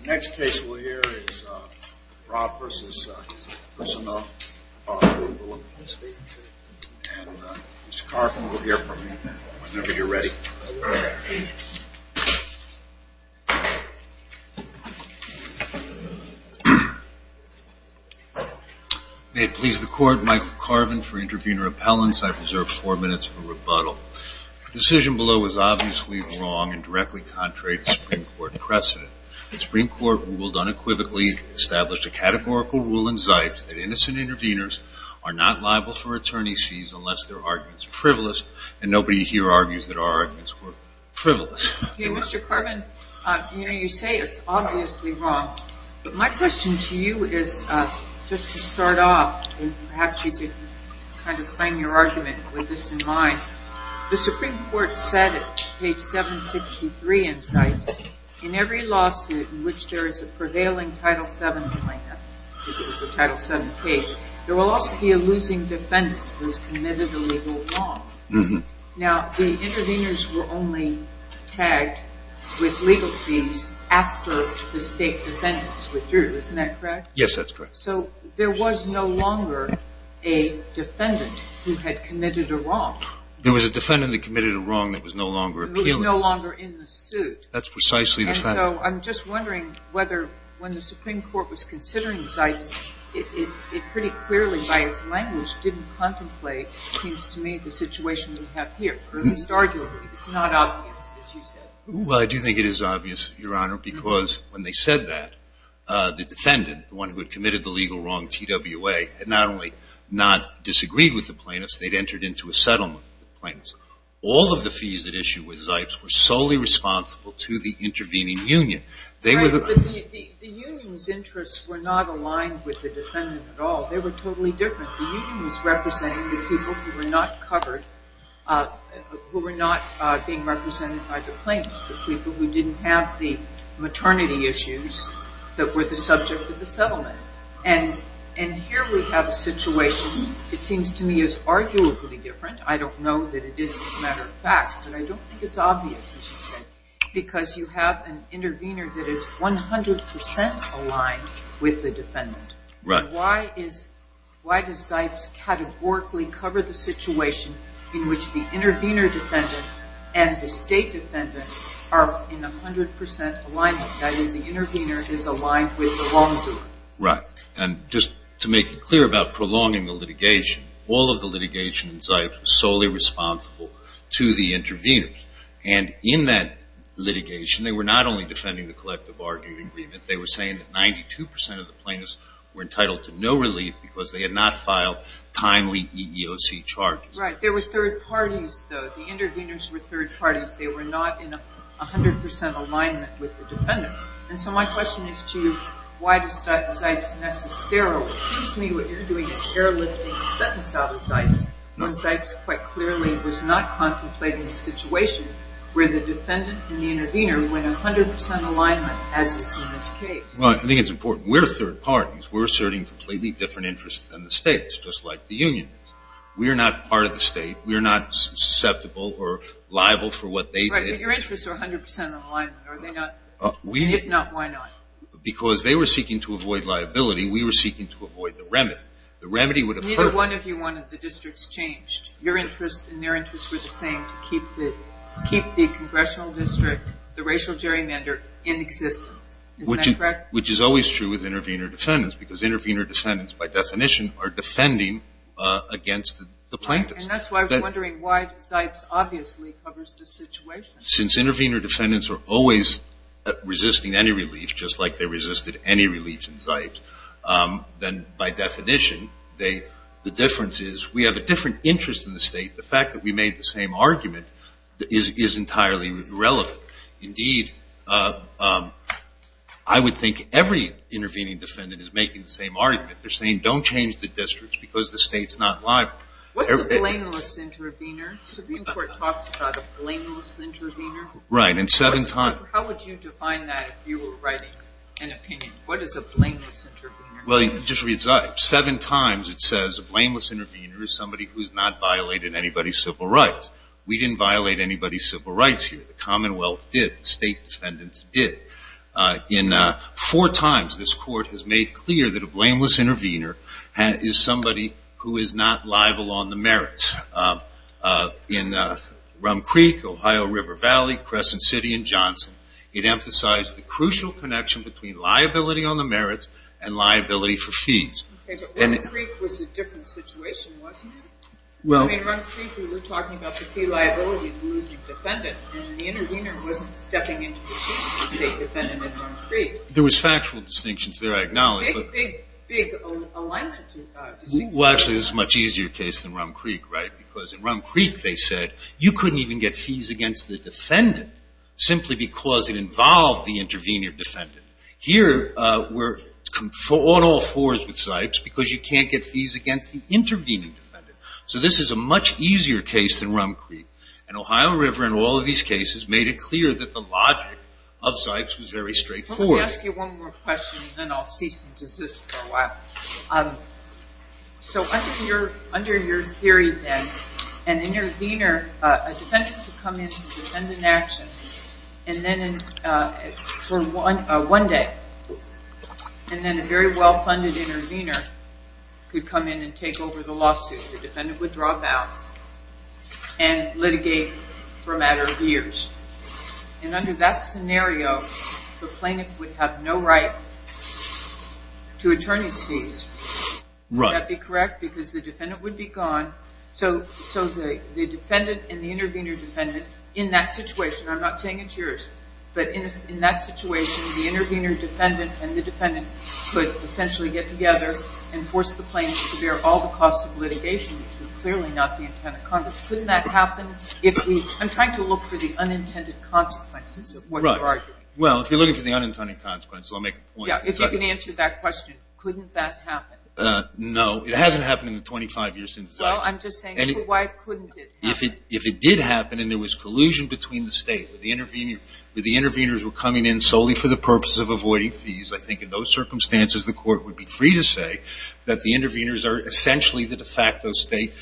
The next case we'll hear is Brat v. Personhuballah, Louisville, Mississippi, and Mr. Carvin will hear from you whenever you're ready. May it please the Court, Michael Carvin for intervening repellents. I've reserved four minutes for rebuttal. The decision below is obviously wrong and directly contrary to Supreme Court precedent. The Supreme Court ruled unequivocally, established a categorical rule in Zipes that innocent interveners are not liable for attorney's fees unless their arguments are frivolous, and nobody here argues that our arguments were frivolous. Mr. Carvin, you say it's obviously wrong, but my question to you is, just to start off, perhaps you could kind of claim your argument with this in mind. The Supreme Court said at page 763 in Zipes, in every lawsuit in which there is a prevailing Title VII plaintiff, because it was a Title VII case, there will also be a losing defendant who has committed a legal wrong. Now, the interveners were only tagged with legal fees after the state defendants withdrew, isn't that correct? Yes, that's correct. So there was no longer a defendant who had committed a wrong. There was a defendant that committed a wrong that was no longer appealing. It was no longer in the suit. That's precisely the fact. So I'm just wondering whether, when the Supreme Court was considering Zipes, it pretty clearly, by its language, didn't contemplate, it seems to me, the situation we have here. At least arguably, it's not obvious, as you said. Well, I do think it is obvious, Your Honor, because when they said that, the defendant, the one who had committed the legal wrong, TWA, had not only not disagreed with the plaintiffs, they'd entered into a settlement with the plaintiffs. All of the fees at issue with Zipes were solely responsible to the intervening union. The union's interests were not aligned with the defendant at all. They were totally different. The union was representing the people who were not covered, who were not being represented by the plaintiffs, the people who didn't have the maternity issues that were the subject of the settlement. And here we have a situation, it seems to me, is arguably different. I don't know that it is, as a matter of fact, but I don't think it's obvious, as you said, because you have an intervener that is 100% aligned with the defendant. Right. Why does Zipes categorically cover the situation in which the intervener defendant and the state defendant are in 100% alignment? That is, the intervener is aligned with the wrongdoer. Right. And just to make it clear about prolonging the litigation, all of the litigation in Zipes was solely responsible to the interveners. And in that litigation, they were not only defending the collective bargaining agreement. They were saying that 92% of the plaintiffs were entitled to no relief because they had not filed timely EEOC charges. Right. They were third parties, though. The interveners were third parties. They were not in 100% alignment with the defendants. And so my question is to you, why does Zipes necessarily – it seems to me what you're doing is airlifting a sentence out of Zipes when Zipes quite clearly was not contemplating a situation where the defendant and the intervener were in 100% alignment, as is in this case. Well, I think it's important. We're third parties. We're asserting completely different interests than the states, just like the union is. We are not part of the state. We are not susceptible or liable for what they did. Right, but your interests are 100% in alignment. Are they not? If not, why not? Because they were seeking to avoid liability. We were seeking to avoid the remedy. The remedy would have hurt. Neither one of you wanted the districts changed. Your interests and their interests were the same, to keep the congressional district, the racial gerrymander, in existence. Isn't that correct? Which is always true with intervener defendants because intervener defendants, by definition, are defending against the plaintiffs. Right, and that's why I was wondering why Zipes obviously covers the situation. Since intervener defendants are always resisting any relief, just like they resisted any relief in Zipes, then by definition the difference is we have a different interest in the state. The fact that we made the same argument is entirely irrelevant. Indeed, I would think every intervening defendant is making the same argument. They're saying don't change the districts because the state's not liable. What's a blameless intervener? The Supreme Court talks about a blameless intervener. Right, and seven times. How would you define that if you were writing an opinion? What is a blameless intervener? Well, just read Zipes. Seven times it says a blameless intervener is somebody who has not violated anybody's civil rights. We didn't violate anybody's civil rights here. The Commonwealth did. State defendants did. Four times this court has made clear that a blameless intervener is somebody who is not liable on the merits. In Rum Creek, Ohio River Valley, Crescent City, and Johnson, it emphasized the crucial connection between liability on the merits and liability for fees. Okay, but Rum Creek was a different situation, wasn't it? Well, in Rum Creek we were talking about the fee liability of the losing defendant. The intervener wasn't stepping into the seat of the state defendant in Rum Creek. There was factual distinctions there, I acknowledge. Big, big, big alignment. Well, actually, this is a much easier case than Rum Creek, right? Because in Rum Creek they said you couldn't even get fees against the defendant simply because it involved the intervener defendant. Here we're on all fours with Zipes because you can't get fees against the intervening defendant. So this is a much easier case than Rum Creek. And Ohio River, in all of these cases, made it clear that the logic of Zipes was very straightforward. Let me ask you one more question and then I'll cease and desist for a while. So under your theory then, an intervener, a defendant could come in and defend an action for one day. And then a very well-funded intervener could come in and take over the lawsuit. The defendant would drop out and litigate for a matter of years. And under that scenario, the plaintiff would have no right to attorney's fees. Would that be correct? Because the defendant would be gone. So the defendant and the intervener defendant in that situation, I'm not saying it's yours, but in that situation, the intervener defendant and the defendant could essentially get together and force the plaintiff to bear all the costs of litigation, which was clearly not the intent of Congress. Couldn't that happen? I'm trying to look for the unintended consequences of what you're arguing. Well, if you're looking for the unintended consequences, I'll make a point. Yeah, if you can answer that question, couldn't that happen? No. It hasn't happened in the 25 years since Zipes. Well, I'm just saying, why couldn't it happen? If it did happen and there was collusion between the state, where the interveners were coming in solely for the purpose of avoiding fees, I think in those circumstances the court would be free to say that the interveners are essentially the de facto state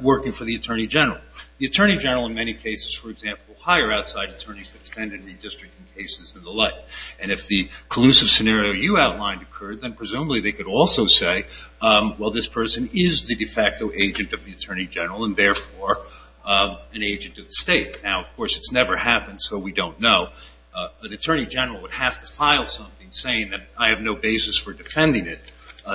working for the attorney general. The attorney general in many cases, for example, hire outside attorneys to defend in redistricting cases and the like. And if the collusive scenario you outlined occurred, then presumably they could also say, well, this person is the de facto agent of the attorney general and, therefore, an agent of the state. Now, of course, it's never happened, so we don't know. An attorney general would have to file something saying that I have no basis for defending it,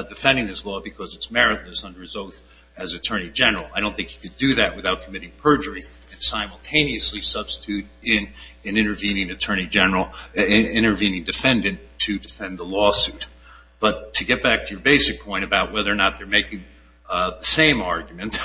defending this law because it's meritless under his oath as attorney general. I don't think you could do that without committing perjury and simultaneously substitute in an intervening attorney general, an intervening defendant to defend the lawsuit. But to get back to your basic point about whether or not they're making the same argument,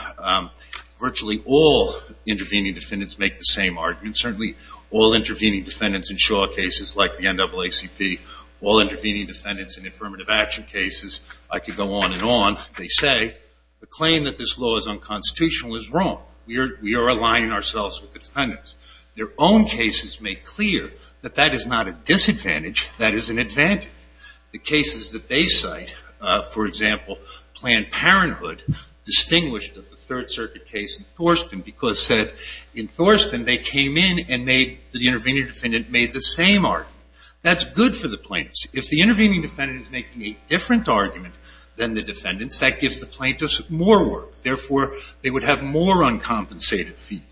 virtually all intervening defendants make the same argument, certainly all intervening defendants in Shaw cases like the NAACP, all intervening defendants in affirmative action cases. I could go on and on. They say the claim that this law is unconstitutional is wrong. We are aligning ourselves with the defendants. Their own cases make clear that that is not a disadvantage, that is an advantage. The cases that they cite, for example, Planned Parenthood, distinguished of the Third Circuit case in Thorston because in Thorston they came in and the intervening defendant made the same argument. That's good for the plaintiffs. If the intervening defendant is making a different argument than the defendants, that gives the plaintiffs more work. Therefore, they would have more uncompensated fees.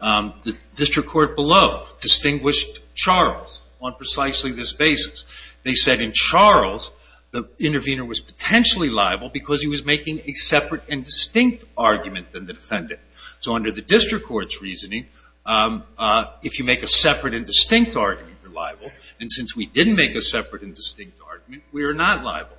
The district court below distinguished Charles on precisely this basis. They said in Charles, the intervener was potentially liable because he was making a separate and distinct argument than the defendant. So under the district court's reasoning, if you make a separate and distinct argument, you're liable. And since we didn't make a separate and distinct argument, we are not liable.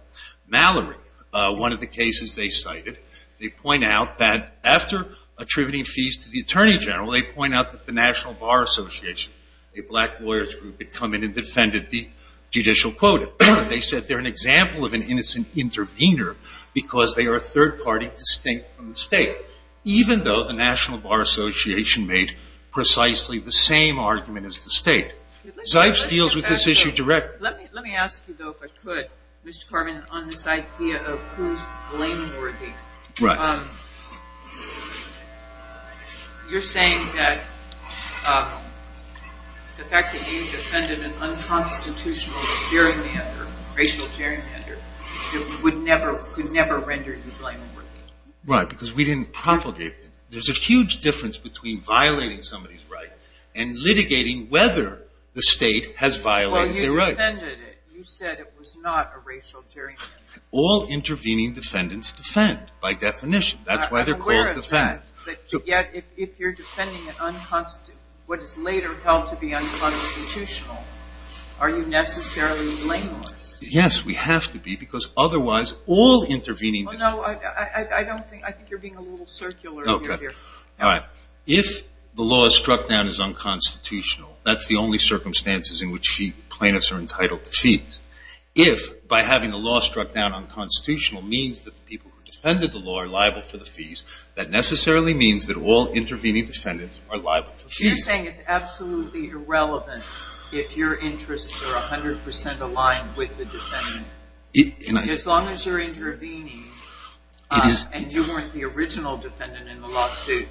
Mallory, one of the cases they cited, they point out that after attributing fees to the attorney general, they point out that the National Bar Association, a black lawyers group, had come in and defended the judicial quota. They said they're an example of an innocent intervener because they are a third party distinct from the state, even though the National Bar Association made precisely the same argument as the state. Zipes deals with this issue directly. Let me ask you, though, if I could, Mr. Carman, on this idea of who's blameworthy. Right. You're saying that the fact that you defended an unconstitutional racial gerrymander would never render you blameworthy. Right, because we didn't propagate it. There's a huge difference between violating somebody's right and litigating whether the state has violated their rights. Well, you defended it. You said it was not a racial gerrymander. All intervening defendants defend by definition. That's why they're called defendants. Yet, if you're defending what is later held to be unconstitutional, are you necessarily blameless? Yes, we have to be because otherwise all intervening defendants Oh, no, I think you're being a little circular here. Okay. All right. If the law struck down as unconstitutional, that's the only circumstances in which plaintiffs are entitled to fees. If by having the law struck down unconstitutional means that the people who defended the law are liable for the fees, that necessarily means that all intervening defendants are liable for fees. So you're saying it's absolutely irrelevant if your interests are 100% aligned with the defendant. As long as you're intervening and you weren't the original defendant in the lawsuit,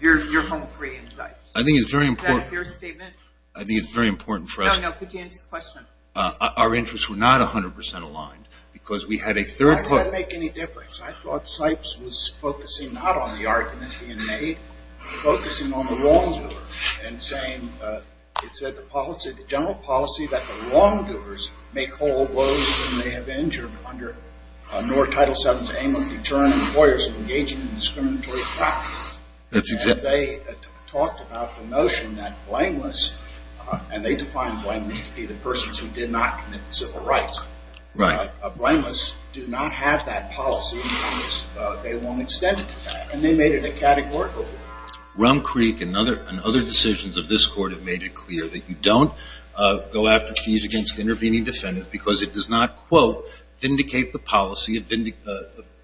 you're home free in sight. I think it's very important. Is that a fair statement? I think it's very important for us. No, no. Could you answer the question? Our interests were not 100% aligned because we had a third party. Why does that make any difference? I thought Sipes was focusing not on the argument being made, focusing on the wrongdoer and saying it said the policy, the general policy that the wrongdoers make whole woes when they have injured under NOR Title VII's aim of deterring employers from engaging in discriminatory practices. That's exactly right. And then they talked about the notion that blameless, and they defined blameless to be the persons who did not commit civil rights. Right. A blameless do not have that policy because they won't extend it to that. And they made it a categorical rule. Rum Creek and other decisions of this court have made it clear that you don't go after fees against intervening defendants because it does not, quote,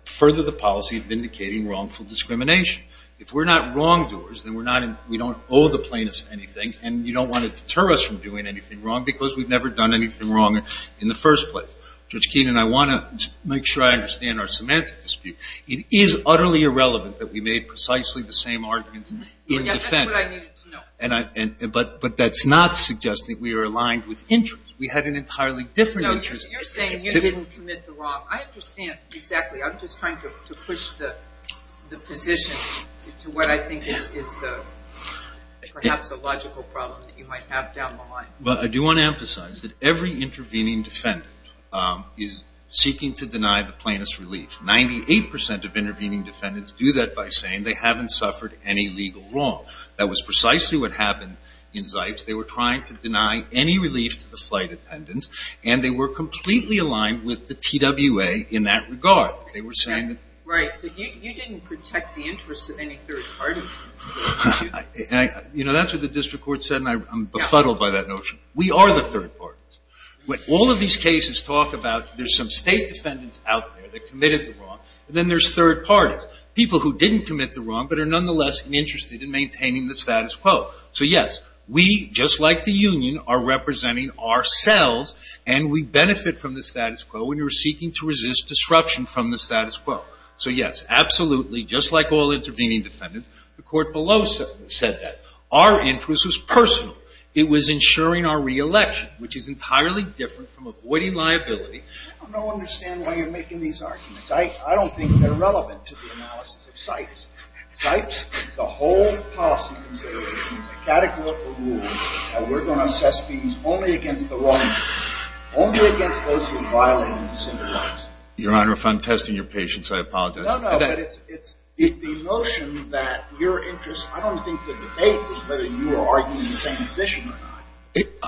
further the policy of vindicating wrongful discrimination. If we're not wrongdoers, then we don't owe the plaintiffs anything and you don't want to deter us from doing anything wrong because we've never done anything wrong in the first place. Judge Keenan, I want to make sure I understand our semantic dispute. It is utterly irrelevant that we made precisely the same arguments in defense. That's what I needed to know. But that's not suggesting we are aligned with interest. We had an entirely different interest. No, you're saying you didn't commit the wrong. I understand exactly. I'm just trying to push the position to what I think is perhaps a logical problem that you might have down the line. Well, I do want to emphasize that every intervening defendant is seeking to deny the plaintiff's relief. Ninety-eight percent of intervening defendants do that by saying they haven't suffered any legal wrong. That was precisely what happened in Zipes. They were trying to deny any relief to the flight attendants and they were completely aligned with the TWA in that regard. They were saying that. Right. You didn't protect the interests of any third parties. You know, that's what the district court said and I'm befuddled by that notion. We are the third parties. All of these cases talk about there's some state defendants out there that committed the wrong and then there's third parties, people who didn't commit the wrong but are nonetheless interested in maintaining the status quo. So, yes, we, just like the union, are representing ourselves and we benefit from the status quo and we're seeking to resist disruption from the status quo. So, yes, absolutely, just like all intervening defendants, the court below said that. Our interest was personal. It was ensuring our reelection, which is entirely different from avoiding liability. I don't understand why you're making these arguments. I don't think they're relevant to the analysis of Zipes. Zipes, the whole policy consideration is a categorical rule that we're going to assess fees only against the wrong people, only against those who are violating the single rights. Your Honor, if I'm testing your patience, I apologize. No, no, but it's the notion that your interest, I don't think the debate is whether you are arguing the same position or not.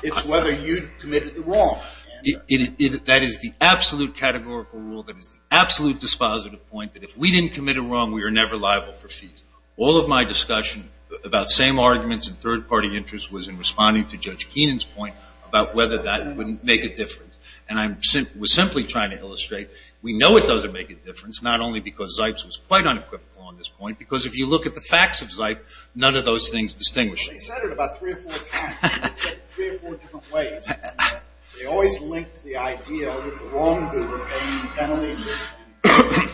It's whether you committed the wrong. That is the absolute categorical rule. That is the absolute dispositive point that if we didn't commit a wrong, we are never liable for fees. All of my discussion about same arguments and third-party interests was in responding to Judge Keenan's point about whether that would make a difference. And I was simply trying to illustrate we know it doesn't make a difference, not only because Zipes was quite unequivocal on this point, because if you look at the facts of Zipes, none of those things distinguish it. They said it about three or four times. They said it three or four different ways. They always linked the idea that the wrongdoer paid penalties. I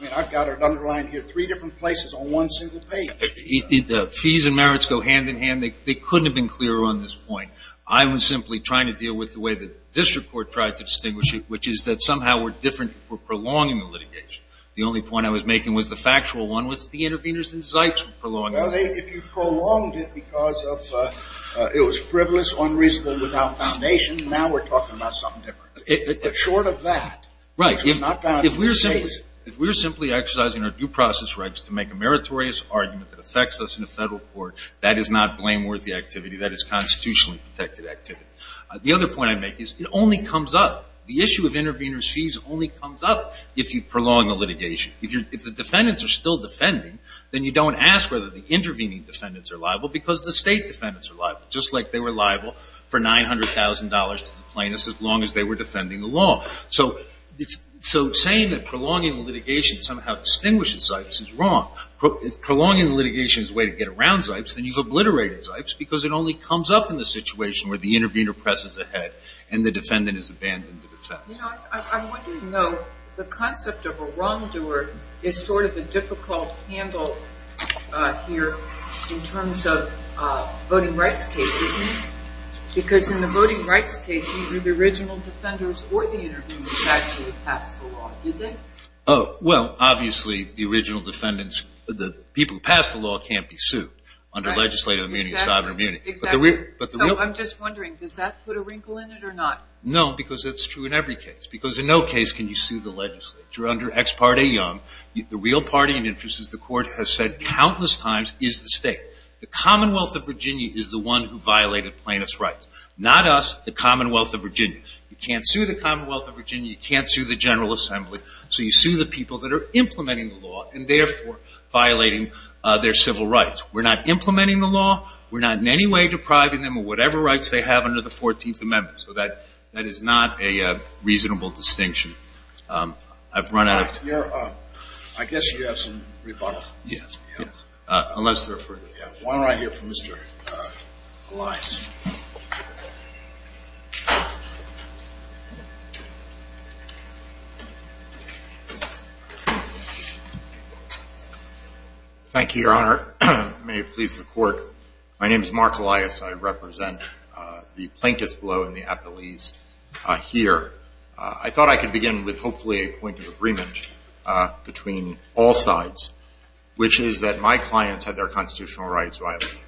mean, I've got it underlined here three different places on one single page. The fees and merits go hand in hand. They couldn't have been clearer on this point. I was simply trying to deal with the way the district court tried to distinguish it, which is that somehow we're different if we're prolonging the litigation. The only point I was making was the factual one, was that the interveners in Zipes were prolonging it. Well, if you prolonged it because it was frivolous, unreasonable, without foundation, now we're talking about something different. Short of that. Right. If we're simply exercising our due process rights to make a meritorious argument that affects us in a federal court, that is not blameworthy activity. That is constitutionally protected activity. The other point I make is it only comes up, the issue of intervener's fees only comes up if you prolong the litigation. If the defendants are still defending, then you don't ask whether the intervening defendants are liable because the state defendants are liable, just like they were liable for $900,000 to the plaintiffs as long as they were defending the law. So saying that prolonging the litigation somehow distinguishes Zipes is wrong. Prolonging the litigation is a way to get around Zipes, and you've obliterated Zipes because it only comes up in the situation where the intervener presses ahead and the defendant has abandoned the defense. I want you to know the concept of a wrongdoer is sort of a difficult handle here in terms of voting rights cases because in the voting rights case either the original defenders or the interveners actually passed the law, did they? Well, obviously the original defendants, the people who passed the law can't be sued under legislative immunity, sovereign immunity. Exactly. I'm just wondering, does that put a wrinkle in it or not? No, because it's true in every case. Because in no case can you sue the legislature under Ex Parte Young. The real party and interest is the court has said countless times is the state. The Commonwealth of Virginia is the one who violated plaintiff's rights, not us, the Commonwealth of Virginia. You can't sue the Commonwealth of Virginia. You can't sue the General Assembly. So you sue the people that are implementing the law and therefore violating their civil rights. We're not implementing the law. We're not in any way depriving them of whatever rights they have under the 14th Amendment. So that is not a reasonable distinction. I've run out of time. I guess you have some rebuttals. Yes. Unless they're for you. Why don't I hear from Mr. Elias. Thank you, Your Honor. May it please the court. My name is Mark Elias. I represent the plaintiffs below in the appellees here. I thought I could begin with hopefully a point of agreement between all sides, which is that my clients had their constitutional rights violated.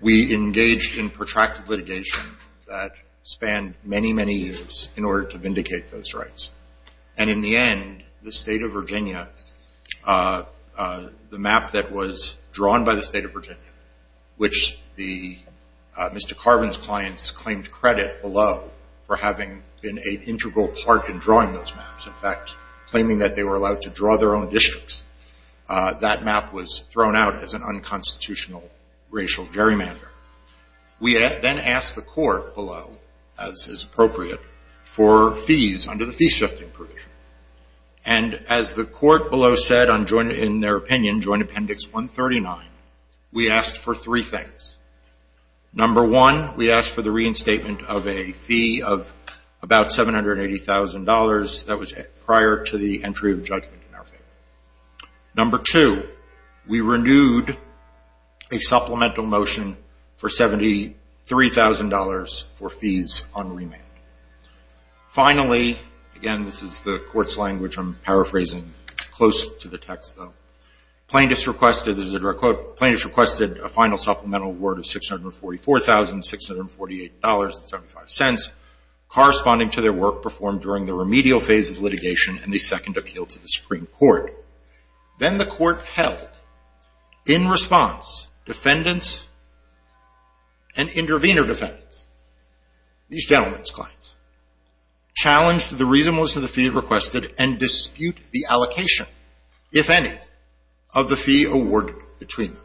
We engaged in protracted litigation that spanned many, many years in order to vindicate those rights. And in the end, the state of Virginia, the map that was drawn by the state of Virginia, which Mr. Carvin's clients claimed credit below for having been an integral part in drawing those maps, in fact claiming that they were allowed to draw their own districts, that map was thrown out as an unconstitutional racial gerrymander. We then asked the court below, as is appropriate, for fees under the fee shifting provision. And as the court below said in their opinion, joint appendix 139, we asked for three things. Number one, we asked for the reinstatement of a fee of about $780,000. That was prior to the entry of judgment in our favor. Number two, we renewed a supplemental motion for $73,000 for fees on remand. Finally, again, this is the court's language. I'm paraphrasing close to the text, though. Plaintiffs requested, this is a direct quote, plaintiffs requested a final supplemental word of $644,648.75, corresponding to their work performed during the remedial phase of litigation and the second appeal to the Supreme Court. Then the court held, in response, defendants and intervener defendants, these gentlemen's clients, challenged the reasonableness of the fee requested and disputed the allocation, if any, of the fee awarded between them.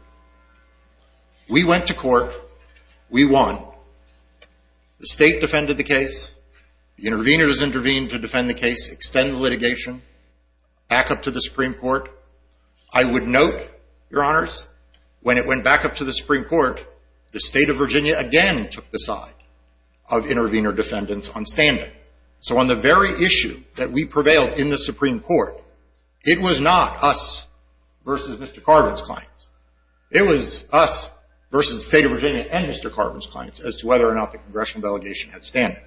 We went to court. We won. The state defended the case. The interveners intervened to defend the case, extended litigation, back up to the Supreme Court. I would note, Your Honors, when it went back up to the Supreme Court, the state of Virginia again took the side of intervener defendants on standing. So on the very issue that we prevailed in the Supreme Court, it was not us versus Mr. Carvin's clients. It was us versus the state of Virginia and Mr. Carvin's clients as to whether or not the congressional delegation had standing.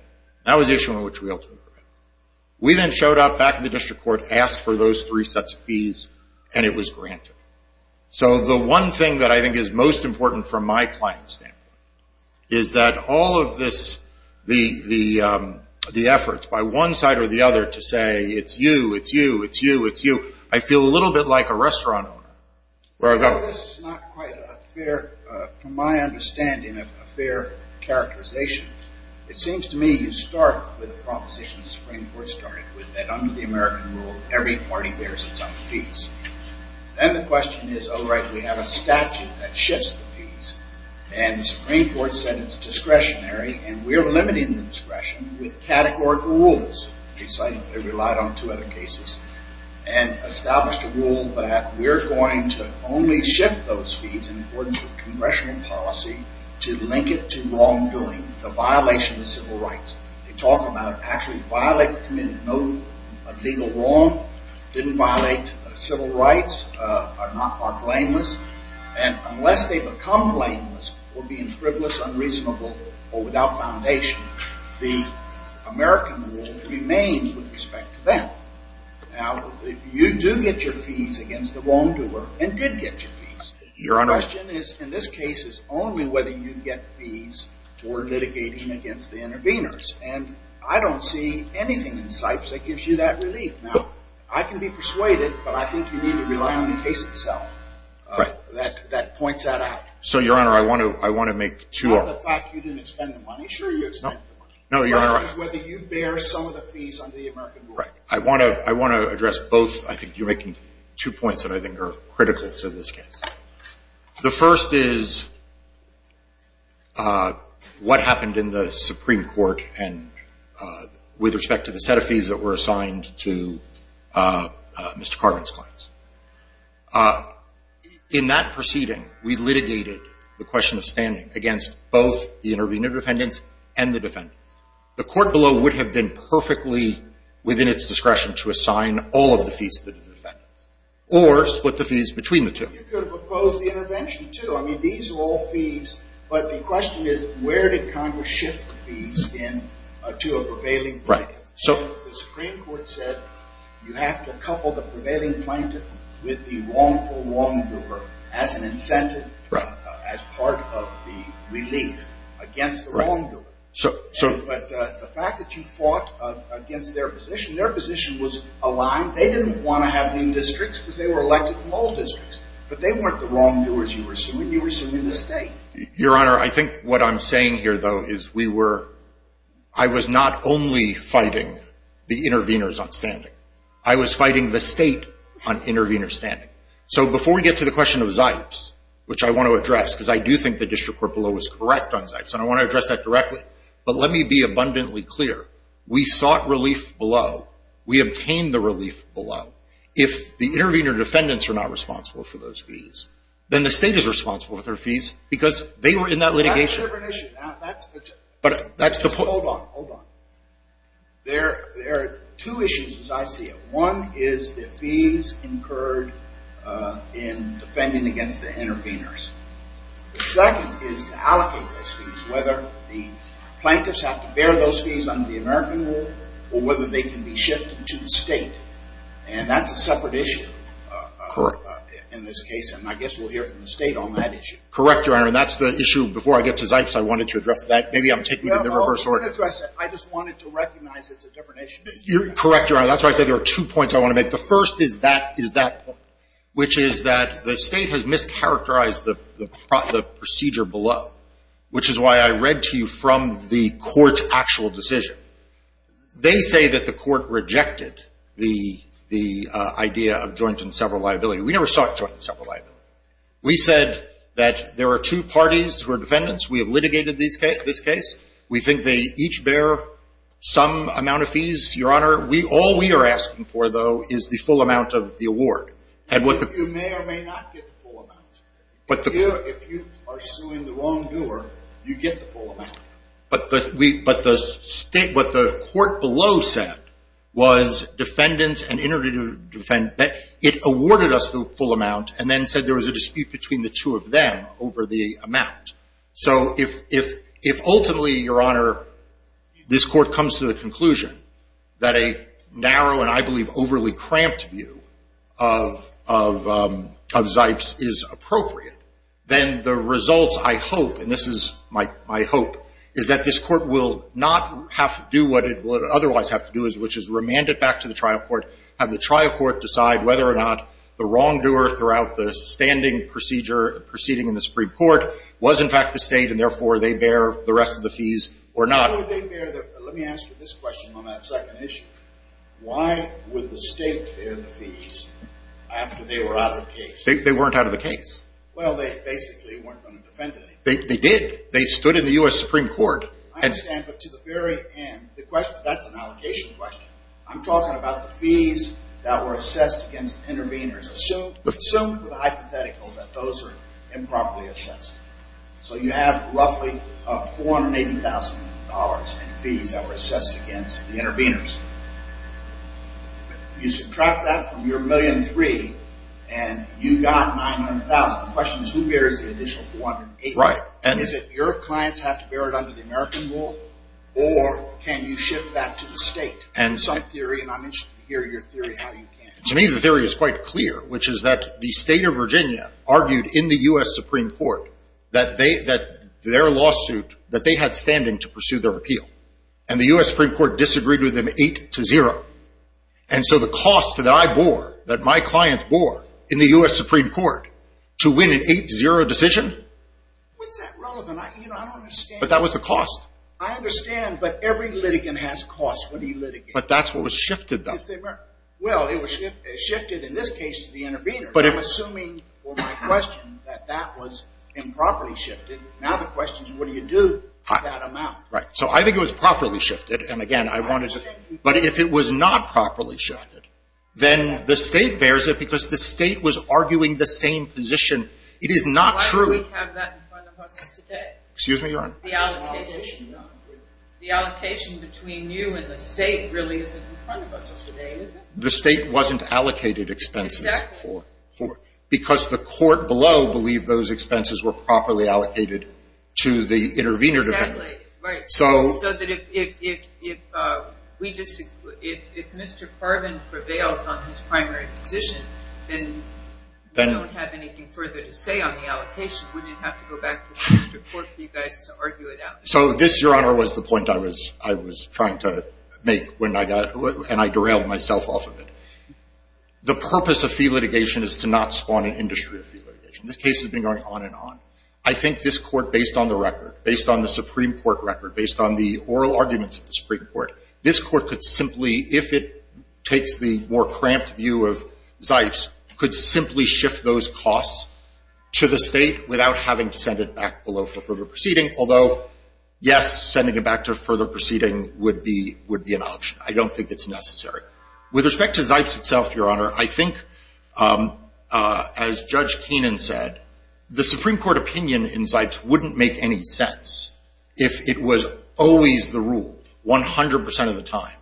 That was the issue on which we ultimately prevailed. We then showed up back in the district court, asked for those three sets of fees, and it was granted. So the one thing that I think is most important from my client's standpoint is that all of this, the efforts by one side or the other to say, it's you, it's you, it's you, it's you, I feel a little bit like a restaurant owner. This is not quite a fair, from my understanding, a fair characterization. It seems to me you start with a proposition the Supreme Court started with, that under the American rule, every party bears its own fees. Then the question is, all right, we have a statute that shifts the fees, and the Supreme Court said it's discretionary, and we're limiting the discretion with categorical rules. They relied on two other cases and established a rule that we're going to only shift those fees in accordance with congressional policy to link it to wrongdoing, the violation of civil rights. They talk about actually violating the committee, no legal wrong, didn't violate civil rights, are blameless, and unless they become blameless for being frivolous, unreasonable, or without foundation, the American rule remains with respect to them. Now, if you do get your fees against the wrongdoer and did get your fees, the question is, in this case, is only whether you get fees for litigating against the interveners, and I don't see anything in Sipes that gives you that relief. Now, I can be persuaded, but I think you need to rely on the case itself that points that out. So, Your Honor, I want to make two arguments. On the fact you didn't expend the money, sure you expended the money. No, Your Honor. The question is whether you bear some of the fees under the American rule. Right. I want to address both. I think you're making two points that I think are critical to this case. The first is what happened in the Supreme Court with respect to the set of fees that were assigned to Mr. Carvin's clients. In that proceeding, we litigated the question of standing against both the intervener defendants and the defendants. The court below would have been perfectly within its discretion to assign all of the fees to the defendants or split the fees between the two. You could have opposed the intervention, too. I mean, these are all fees, but the question is, where did Congress shift the fees to a prevailing plaintiff? The Supreme Court said you have to couple the prevailing plaintiff with the wrongful wrongdoer as an incentive, as part of the relief against the wrongdoer. But the fact that you fought against their position, their position was aligned. They didn't want to have any districts because they were elected from all districts, but they weren't the wrongdoers you were assuming. You were assuming the state. Your Honor, I think what I'm saying here, though, is I was not only fighting the interveners on standing. I was fighting the state on intervener standing. So before we get to the question of Zipes, which I want to address, because I do think the district court below was correct on Zipes, and I want to address that directly. But let me be abundantly clear. We sought relief below. We obtained the relief below. If the intervener defendants are not responsible for those fees, then the state is responsible for their fees because they were in that litigation. That's a different issue. Hold on, hold on. There are two issues as I see it. One is the fees incurred in defending against the interveners. The second is to allocate those fees, whether the plaintiffs have to bear those fees under the American rule or whether they can be shifted to the state. And that's a separate issue in this case, and I guess we'll hear from the state on that issue. Correct, Your Honor, and that's the issue. Before I get to Zipes, I wanted to address that. Maybe I'm taking it in the reverse order. Correct, Your Honor. That's why I said there are two points I want to make. The first is that point, which is that the state has mischaracterized the procedure below, which is why I read to you from the court's actual decision. They say that the court rejected the idea of joint and several liability. We never sought joint and several liability. We said that there are two parties who are defendants. We have litigated this case. We think they each bear some amount of fees, Your Honor. All we are asking for, though, is the full amount of the award. You may or may not get the full amount. If you are suing the wrong doer, you get the full amount. But what the court below said was defendants and interdictive defendants. It awarded us the full amount and then said there was a dispute between the two of them over the amount. So if ultimately, Your Honor, this court comes to the conclusion that a narrow and I believe overly cramped view of Zipes is appropriate, then the results I hope, and this is my hope, is that this court will not have to do what it would otherwise have to do, which is remand it back to the trial court, have the trial court decide whether or not the wrong doer throughout the standing procedure proceeding in the Supreme Court was, in fact, the state, and therefore they bear the rest of the fees or not. Let me ask you this question on that second issue. Why would the state bear the fees after they were out of the case? They weren't out of the case. Well, they basically weren't going to defend anything. They did. They stood in the U.S. Supreme Court. I understand. But to the very end, that's an allocation question. I'm talking about the fees that were assessed against the interveners. Assume for the hypothetical that those are improperly assessed. So you have roughly $480,000 in fees that were assessed against the interveners. You subtract that from your $1.3 million and you got $900,000. The question is who bears the additional $480,000? Is it your clients have to bear it under the American rule or can you shift that to the state? Some theory, and I'm interested to hear your theory how you can. To me, the theory is quite clear, which is that the state of Virginia argued in the U.S. Supreme Court that their lawsuit, that they had standing to pursue their appeal. And the U.S. Supreme Court disagreed with them 8-0. And so the cost that I bore, that my clients bore in the U.S. Supreme Court to win an 8-0 decision? What's that relevant? I don't understand. But that was the cost. I understand, but every litigant has costs when he litigates. But that's what was shifted, though. Well, it was shifted in this case to the intervener. I'm assuming for my question that that was improperly shifted. Now the question is what do you do with that amount? Right. So I think it was properly shifted. And, again, I wanted to – But if it was not properly shifted, then the state bears it because the state was arguing the same position. It is not true. Why do we have that in front of us today? Excuse me, Your Honor? The allocation between you and the state really isn't in front of us today. The state wasn't allocated expenses for it because the court below believed those expenses were properly allocated to the intervener defendants. Exactly. Right. So that if Mr. Farben prevails on his primary position, then we don't have anything further to say on the allocation. We didn't have to go back to the Supreme Court for you guys to argue it out. So this, Your Honor, was the point I was trying to make and I derailed myself off of it. The purpose of fee litigation is to not spawn an industry of fee litigation. This case has been going on and on. I think this court, based on the record, based on the Supreme Court record, based on the oral arguments of the Supreme Court, this court could simply, if it takes the more cramped view of Zipes, could simply shift those costs to the state without having to send it back below for further proceeding, although, yes, sending it back to further proceeding would be an option. I don't think it's necessary. With respect to Zipes itself, Your Honor, I think, as Judge Keenan said, the Supreme Court opinion in Zipes wouldn't make any sense if it was always the rule, 100% of the time,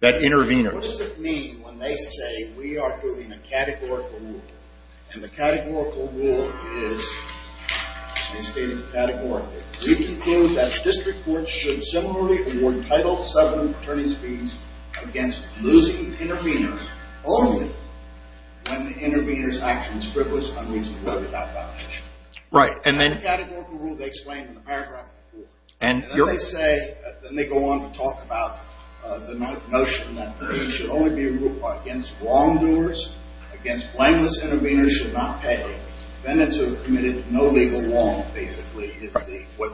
that interveners. What does it mean when they say we are doing a categorical rule? And the categorical rule is, they state it categorically, we conclude that district courts should similarly award title VII attorney's fees against losing interveners only when the intervener's action is frivolous, unreasonable, or without validation. It's a categorical rule they explain in the paragraph before. And then they say, then they go on to talk about the notion that there should only be a rule against wrongdoers, against blameless interveners should not pay. Defendants are committed no legal wrong, basically, is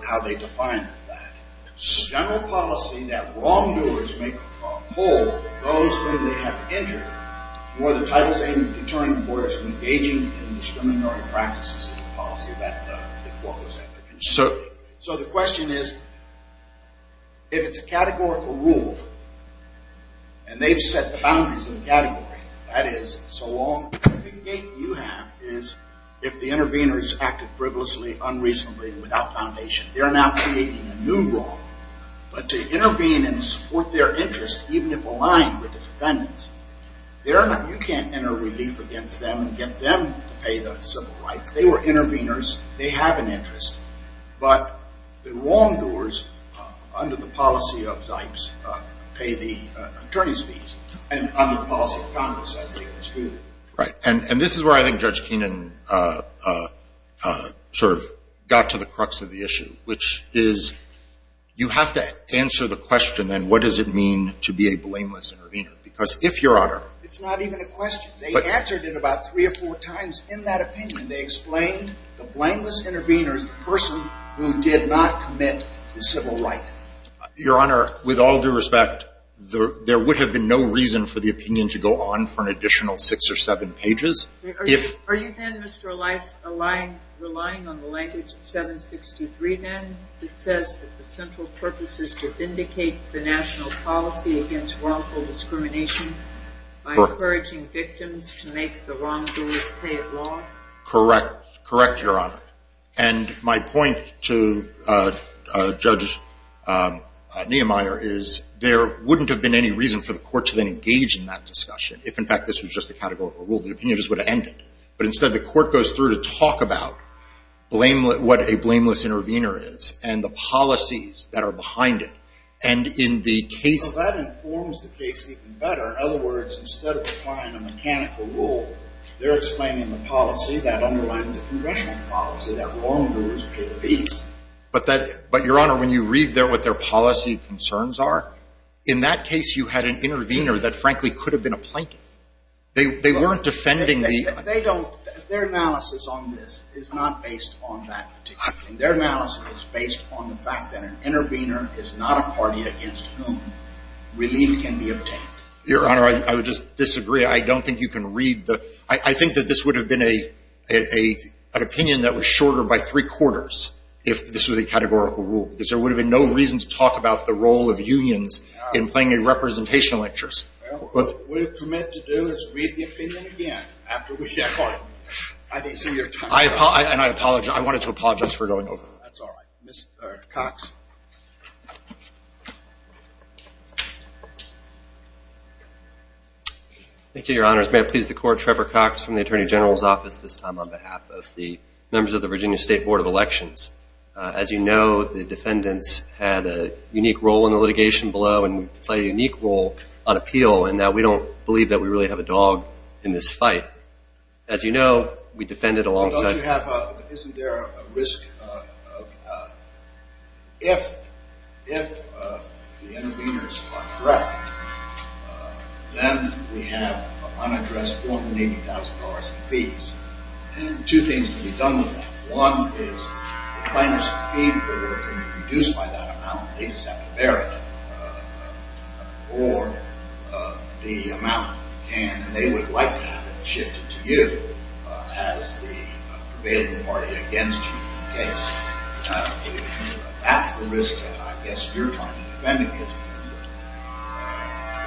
how they define that. The general policy that wrongdoers make a whole of those whom they have injured, where the title VII attorney works engaging in discriminatory practices is the policy that the court was after. So the question is, if it's a categorical rule, and they've set the boundaries of the category, that is, so long as the gate you have is, if the intervener's acted frivolously, unreasonably, without foundation, they're now creating a new wrong. But to intervene and support their interest, even if aligned with the defendant's, you can't enter relief against them and get them to pay the civil rights. They were interveners. They have an interest. But the wrongdoers, under the policy of Zipes, pay the attorney's fees, and under the policy of Congress, as they have excluded. Right. And this is where I think Judge Keenan sort of got to the crux of the issue, which is you have to answer the question, then, what does it mean to be a blameless intervener? Because if Your Honor — It's not even a question. They answered it about three or four times in that opinion. They explained the blameless intervener is the person who did not commit the civil right. Your Honor, with all due respect, there would have been no reason for the opinion to go on for an additional six or seven pages. Are you, then, Mr. Elias, relying on the language of 763, then, that says that the central purpose is to vindicate the national policy against wrongful discrimination by encouraging victims to make the wrongdoers pay it long? Correct. Correct, Your Honor. And my point to Judge Niemeyer is there wouldn't have been any reason for the court to then engage in that discussion if, in fact, this was just a categorical rule. The opinion just would have ended. But instead, the court goes through to talk about what a blameless intervener is and the policies that are behind it. And in the case — In other words, instead of applying a mechanical rule, they're explaining the policy that underlines a congressional policy that wrongdoers pay the fees. But, Your Honor, when you read there what their policy concerns are, in that case you had an intervener that, frankly, could have been a plaintiff. They weren't defending the — They don't. Their analysis on this is not based on that. Their analysis is based on the fact that an intervener is not a party against whom relief can be obtained. Your Honor, I would just disagree. I don't think you can read the — I think that this would have been an opinion that was shorter by three-quarters if this was a categorical rule, because there would have been no reason to talk about the role of unions in playing a representational interest. Well, what we commit to do is read the opinion again after we've tried. I didn't see your time. And I apologize. I wanted to apologize for going over. That's all right. Mr. Cox. Thank you, Your Honors. May it please the Court, Trevor Cox from the Attorney General's Office, this time on behalf of the members of the Virginia State Board of Elections. As you know, the defendants had a unique role in the litigation below and play a unique role on appeal in that we don't believe that we really have a dog in this fight. As you know, we defended alongside — Well, don't you have a — If the interveners are correct, then we have unaddressed $480,000 in fees. And two things can be done with that. One is the plaintiffs' fee order can be reduced by that amount. They just have to bear it. Or the amount can — and they would like to have it shifted to you as the prevailing party against you in the case. That's the risk that I guess you're trying to defend against.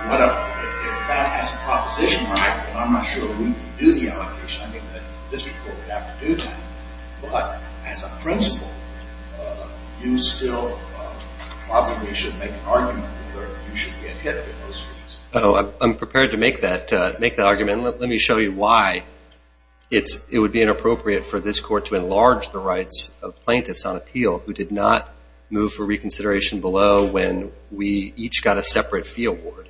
If that has a proposition on it, and I'm not sure we can do the allocation, I think the District Court would have to do that. But as a principle, you still probably should make an argument whether you should get hit with those fees. I'm prepared to make that argument. Let me show you why it would be inappropriate for this Court to enlarge the rights of plaintiffs on appeal who did not move for reconsideration below when we each got a separate fee award.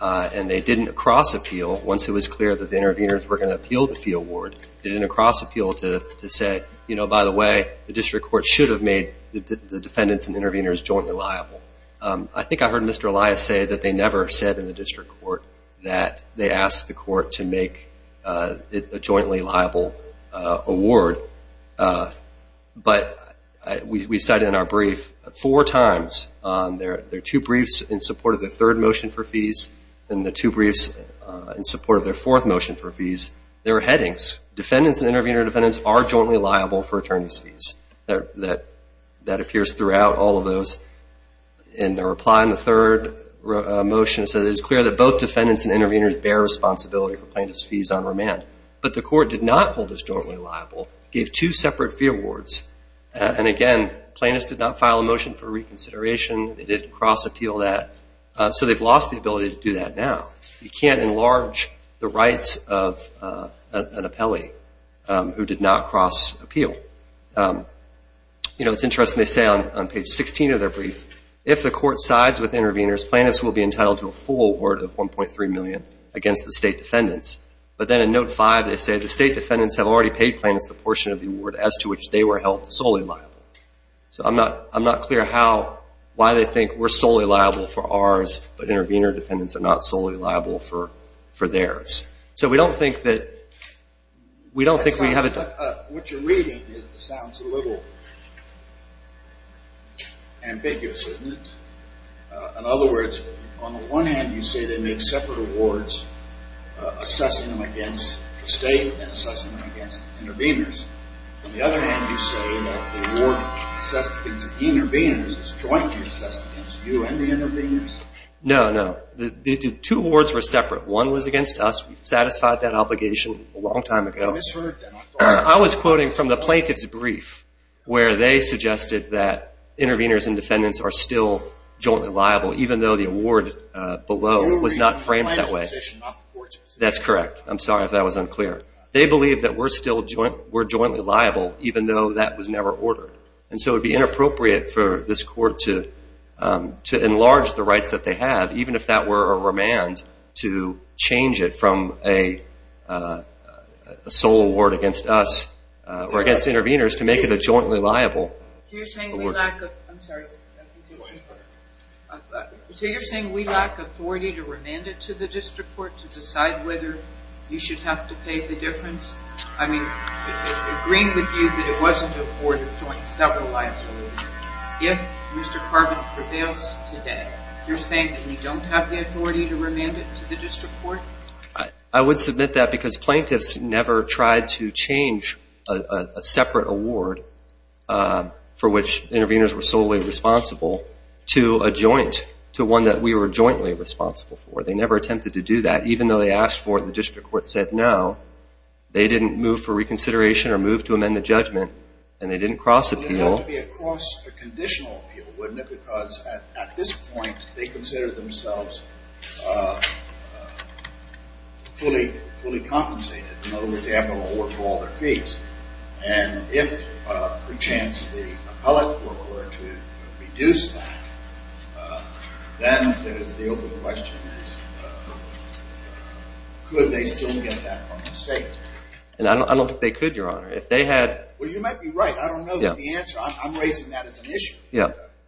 And they didn't cross-appeal. Once it was clear that the interveners were going to appeal the fee award, they didn't cross-appeal to say, you know, by the way, the District Court should have made the defendants and interveners jointly liable. I think I heard Mr. Elias say that they never said in the District Court that they asked the Court to make a jointly liable award. But we cite in our brief four times. There are two briefs in support of the third motion for fees and the two briefs in support of their fourth motion for fees. There are headings. Defendants and intervener defendants are jointly liable for attorney's fees. That appears throughout all of those. In the reply in the third motion, it is clear that both defendants and interveners bear responsibility for plaintiff's fees on remand. But the Court did not hold us jointly liable, gave two separate fee awards. And, again, plaintiffs did not file a motion for reconsideration. They didn't cross-appeal that. So they've lost the ability to do that now. You can't enlarge the rights of an appellee who did not cross-appeal. You know, it's interesting. They say on page 16 of their brief, if the Court sides with interveners, plaintiffs will be entitled to a full award of $1.3 million against the state defendants. But then in Note 5, they say, the state defendants have already paid plaintiffs the portion of the award as to which they were held solely liable. So I'm not clear how, why they think we're solely liable for ours, but intervener defendants are not solely liable for theirs. So we don't think that we have a... In other words, on the one hand, you say they make separate awards assessing them against the state and assessing them against interveners. On the other hand, you say that the award assessed against the interveners is jointly assessed against you and the interveners. No, no. The two awards were separate. One was against us. We satisfied that obligation a long time ago. I was quoting from the plaintiff's brief where they suggested that interveners and defendants are still jointly liable, even though the award below was not framed that way. The plaintiff's position, not the court's position. That's correct. I'm sorry if that was unclear. They believe that we're still jointly liable, even though that was never ordered. And so it would be inappropriate for this court to enlarge the rights that they have, even if that were a remand to change it from a sole award against us just to make it a jointly liable award. So you're saying we lack authority to remand it to the district court to decide whether you should have to pay the difference? I mean, agreeing with you that it wasn't a board of joint several liabilities, if Mr. Carbon prevails today, you're saying that we don't have the authority to remand it to the district court? I would submit that because plaintiffs never tried to change a separate award for which interveners were solely responsible to a joint, to one that we were jointly responsible for. They never attempted to do that, even though they asked for it and the district court said no. They didn't move for reconsideration or move to amend the judgment, and they didn't cross appeal. Well, it would have to be a conditional appeal, wouldn't it, because at this point they consider themselves fully compensated. In other words, they have no award for all their fees. And if per chance the appellate court were to reduce that, then the open question is could they still get that from the state? I don't think they could, Your Honor. Well, you might be right. I don't know the answer. I'm raising that as an issue.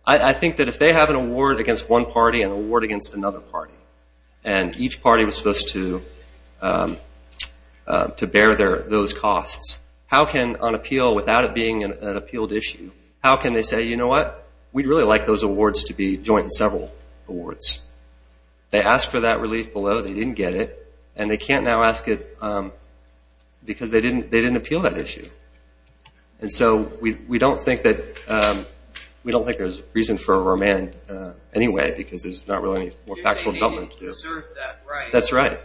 I think that if they have an award against one party, an award against another party, and each party was supposed to bear those costs, how can on appeal, without it being an appealed issue, how can they say, you know what, we'd really like those awards to be joint and several awards? They asked for that relief below, they didn't get it, and they can't now ask it because they didn't appeal that issue. And so we don't think there's reason for a remand anyway because there's not really any factual development to do. They didn't deserve that right. That's right.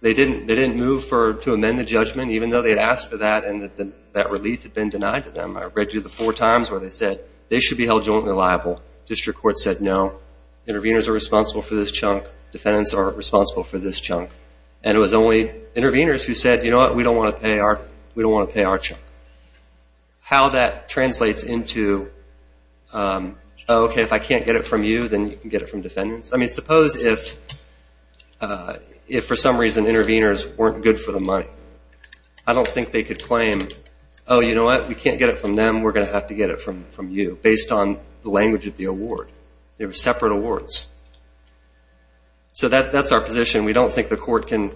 They didn't move to amend the judgment, even though they had asked for that and that relief had been denied to them. I read you the four times where they said they should be held jointly liable. District court said no. Interveners are responsible for this chunk. Defendants are responsible for this chunk. And it was only interveners who said, you know what, we don't want to pay our chunk. How that translates into, oh, okay, if I can't get it from you, then you can get it from defendants. I mean, suppose if for some reason interveners weren't good for the money. I don't think they could claim, oh, you know what, we can't get it from them, we're going to have to get it from you, based on the language of the award. They were separate awards. So that's our position. We don't think the court can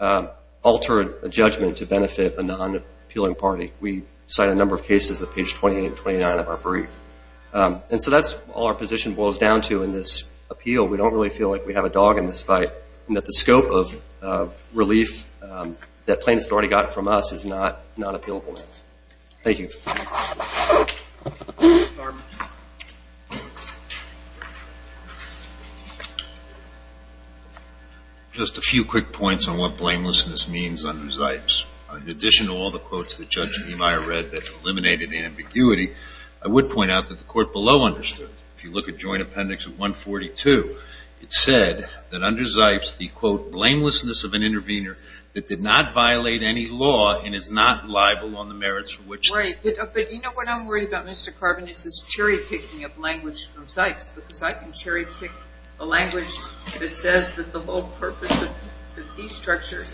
alter a judgment to benefit a non-appealing party. We cite a number of cases at page 28 and 29 of our brief. And so that's all our position boils down to in this appeal. We don't really feel like we have a dog in this fight, and that the scope of relief that plaintiffs had already gotten from us is not Thank you. Just a few quick points on what blamelessness means under Zipes. In addition to all the quotes that Judge Emeyer read that eliminated ambiguity, I would point out that the court below understood. If you look at joint appendix 142, it said that under Zipes, the quote, blamelessness of an intervener that did not violate any law and is not liable on the merits for which Right, but you know what I'm worried about, Mr. Carbon, is this cherry picking of language from Zipes. Because I can cherry pick a language that says that the whole purpose of the fee structure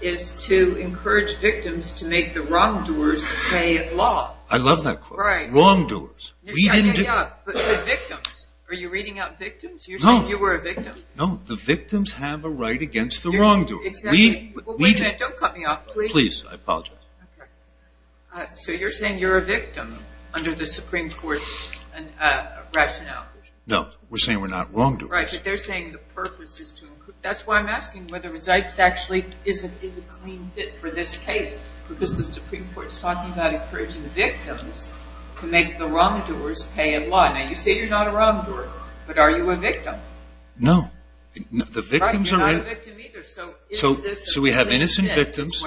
is to encourage victims to make the wrongdoers pay at law. I love that quote. Right. Wrongdoers. But the victims. Are you reading out victims? No. You said you were a victim. No, the victims have a right against the wrongdoers. Exactly. Wait a minute. Don't cut me off, please. Please, I apologize. Okay. So you're saying you're a victim under the Supreme Court's rationale. No, we're saying we're not wrongdoers. Right, but they're saying the purpose is to improve. That's why I'm asking whether Zipes actually is a clean fit for this case because the Supreme Court is talking about encouraging the victims to make the wrongdoers pay at law. Now, you say you're not a wrongdoer, but are you a victim? No. The victims are So we have innocent victims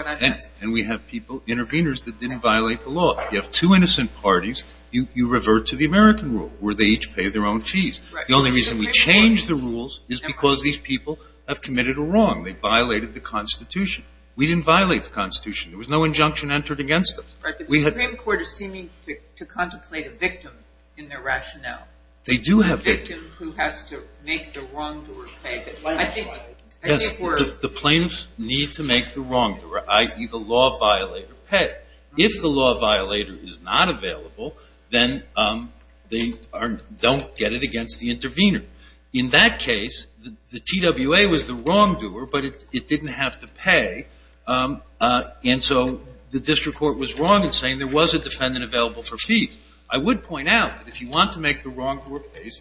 and we have interveners that didn't violate the law. You have two innocent parties. You revert to the American rule where they each pay their own fees. The only reason we change the rules is because these people have committed a wrong. They violated the Constitution. We didn't violate the Constitution. There was no injunction entered against us. The Supreme Court is seeming to contemplate a victim in their rationale. They do have victims. The plaintiffs need to make the wrongdoer, i.e., the law violator, pay. If the law violator is not available, then they don't get it against the intervener. In that case, the TWA was the wrongdoer, but it didn't have to pay, and so the district court was wrong in saying there was a defendant available for fees. I would point out that if you want to make the wrongdoer pay,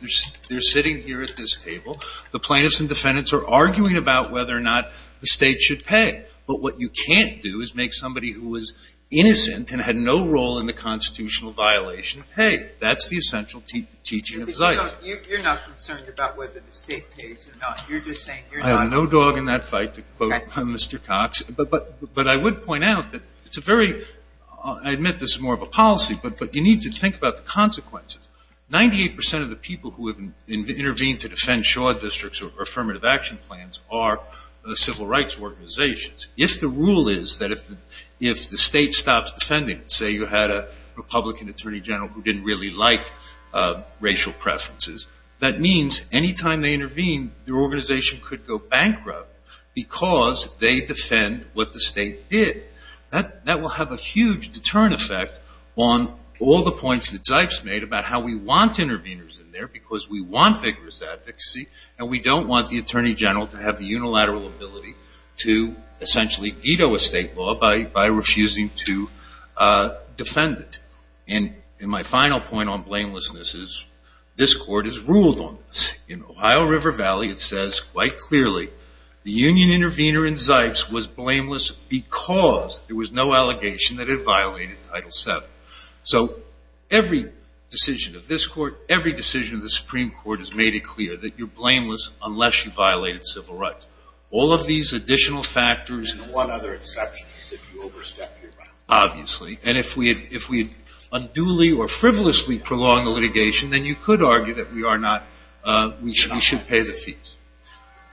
they're sitting here at this table. The plaintiffs and defendants are arguing about whether or not the State should pay, but what you can't do is make somebody who was innocent and had no role in the Constitutional violation pay. That's the essential teaching of Zika. You're not concerned about whether the State pays or not. You're just saying you're not. I have no dog in that fight, to quote Mr. Cox. But I would point out that it's a very – I admit this is more of a policy, but you need to think about the consequences. Ninety-eight percent of the people who have intervened to defend shore districts or affirmative action plans are civil rights organizations. If the rule is that if the State stops defending, say, you had a Republican attorney general who didn't really like racial preferences, that means any time they intervene, their organization could go bankrupt because they defend what the State did. That will have a huge deterrent effect on all the points that Zipes made about how we want interveners in there because we want vigorous advocacy and we don't want the attorney general to have the unilateral ability to essentially veto a State law by refusing to defend it. And my final point on blamelessness is this Court has ruled on this. In Ohio River Valley it says quite clearly the union intervener in Zipes was blameless because there was no allegation that it violated Title VII. So every decision of this Court, every decision of the Supreme Court has made it clear that you're blameless unless you violated civil rights. All of these additional factors and one other exception is if you overstep your boundaries. Obviously. And if we unduly or frivolously prolong the litigation, then you could argue that we are not – we should pay the fees.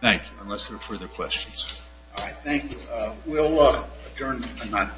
Thank you, unless there are further questions. All right. Thank you. We'll adjourn tonight.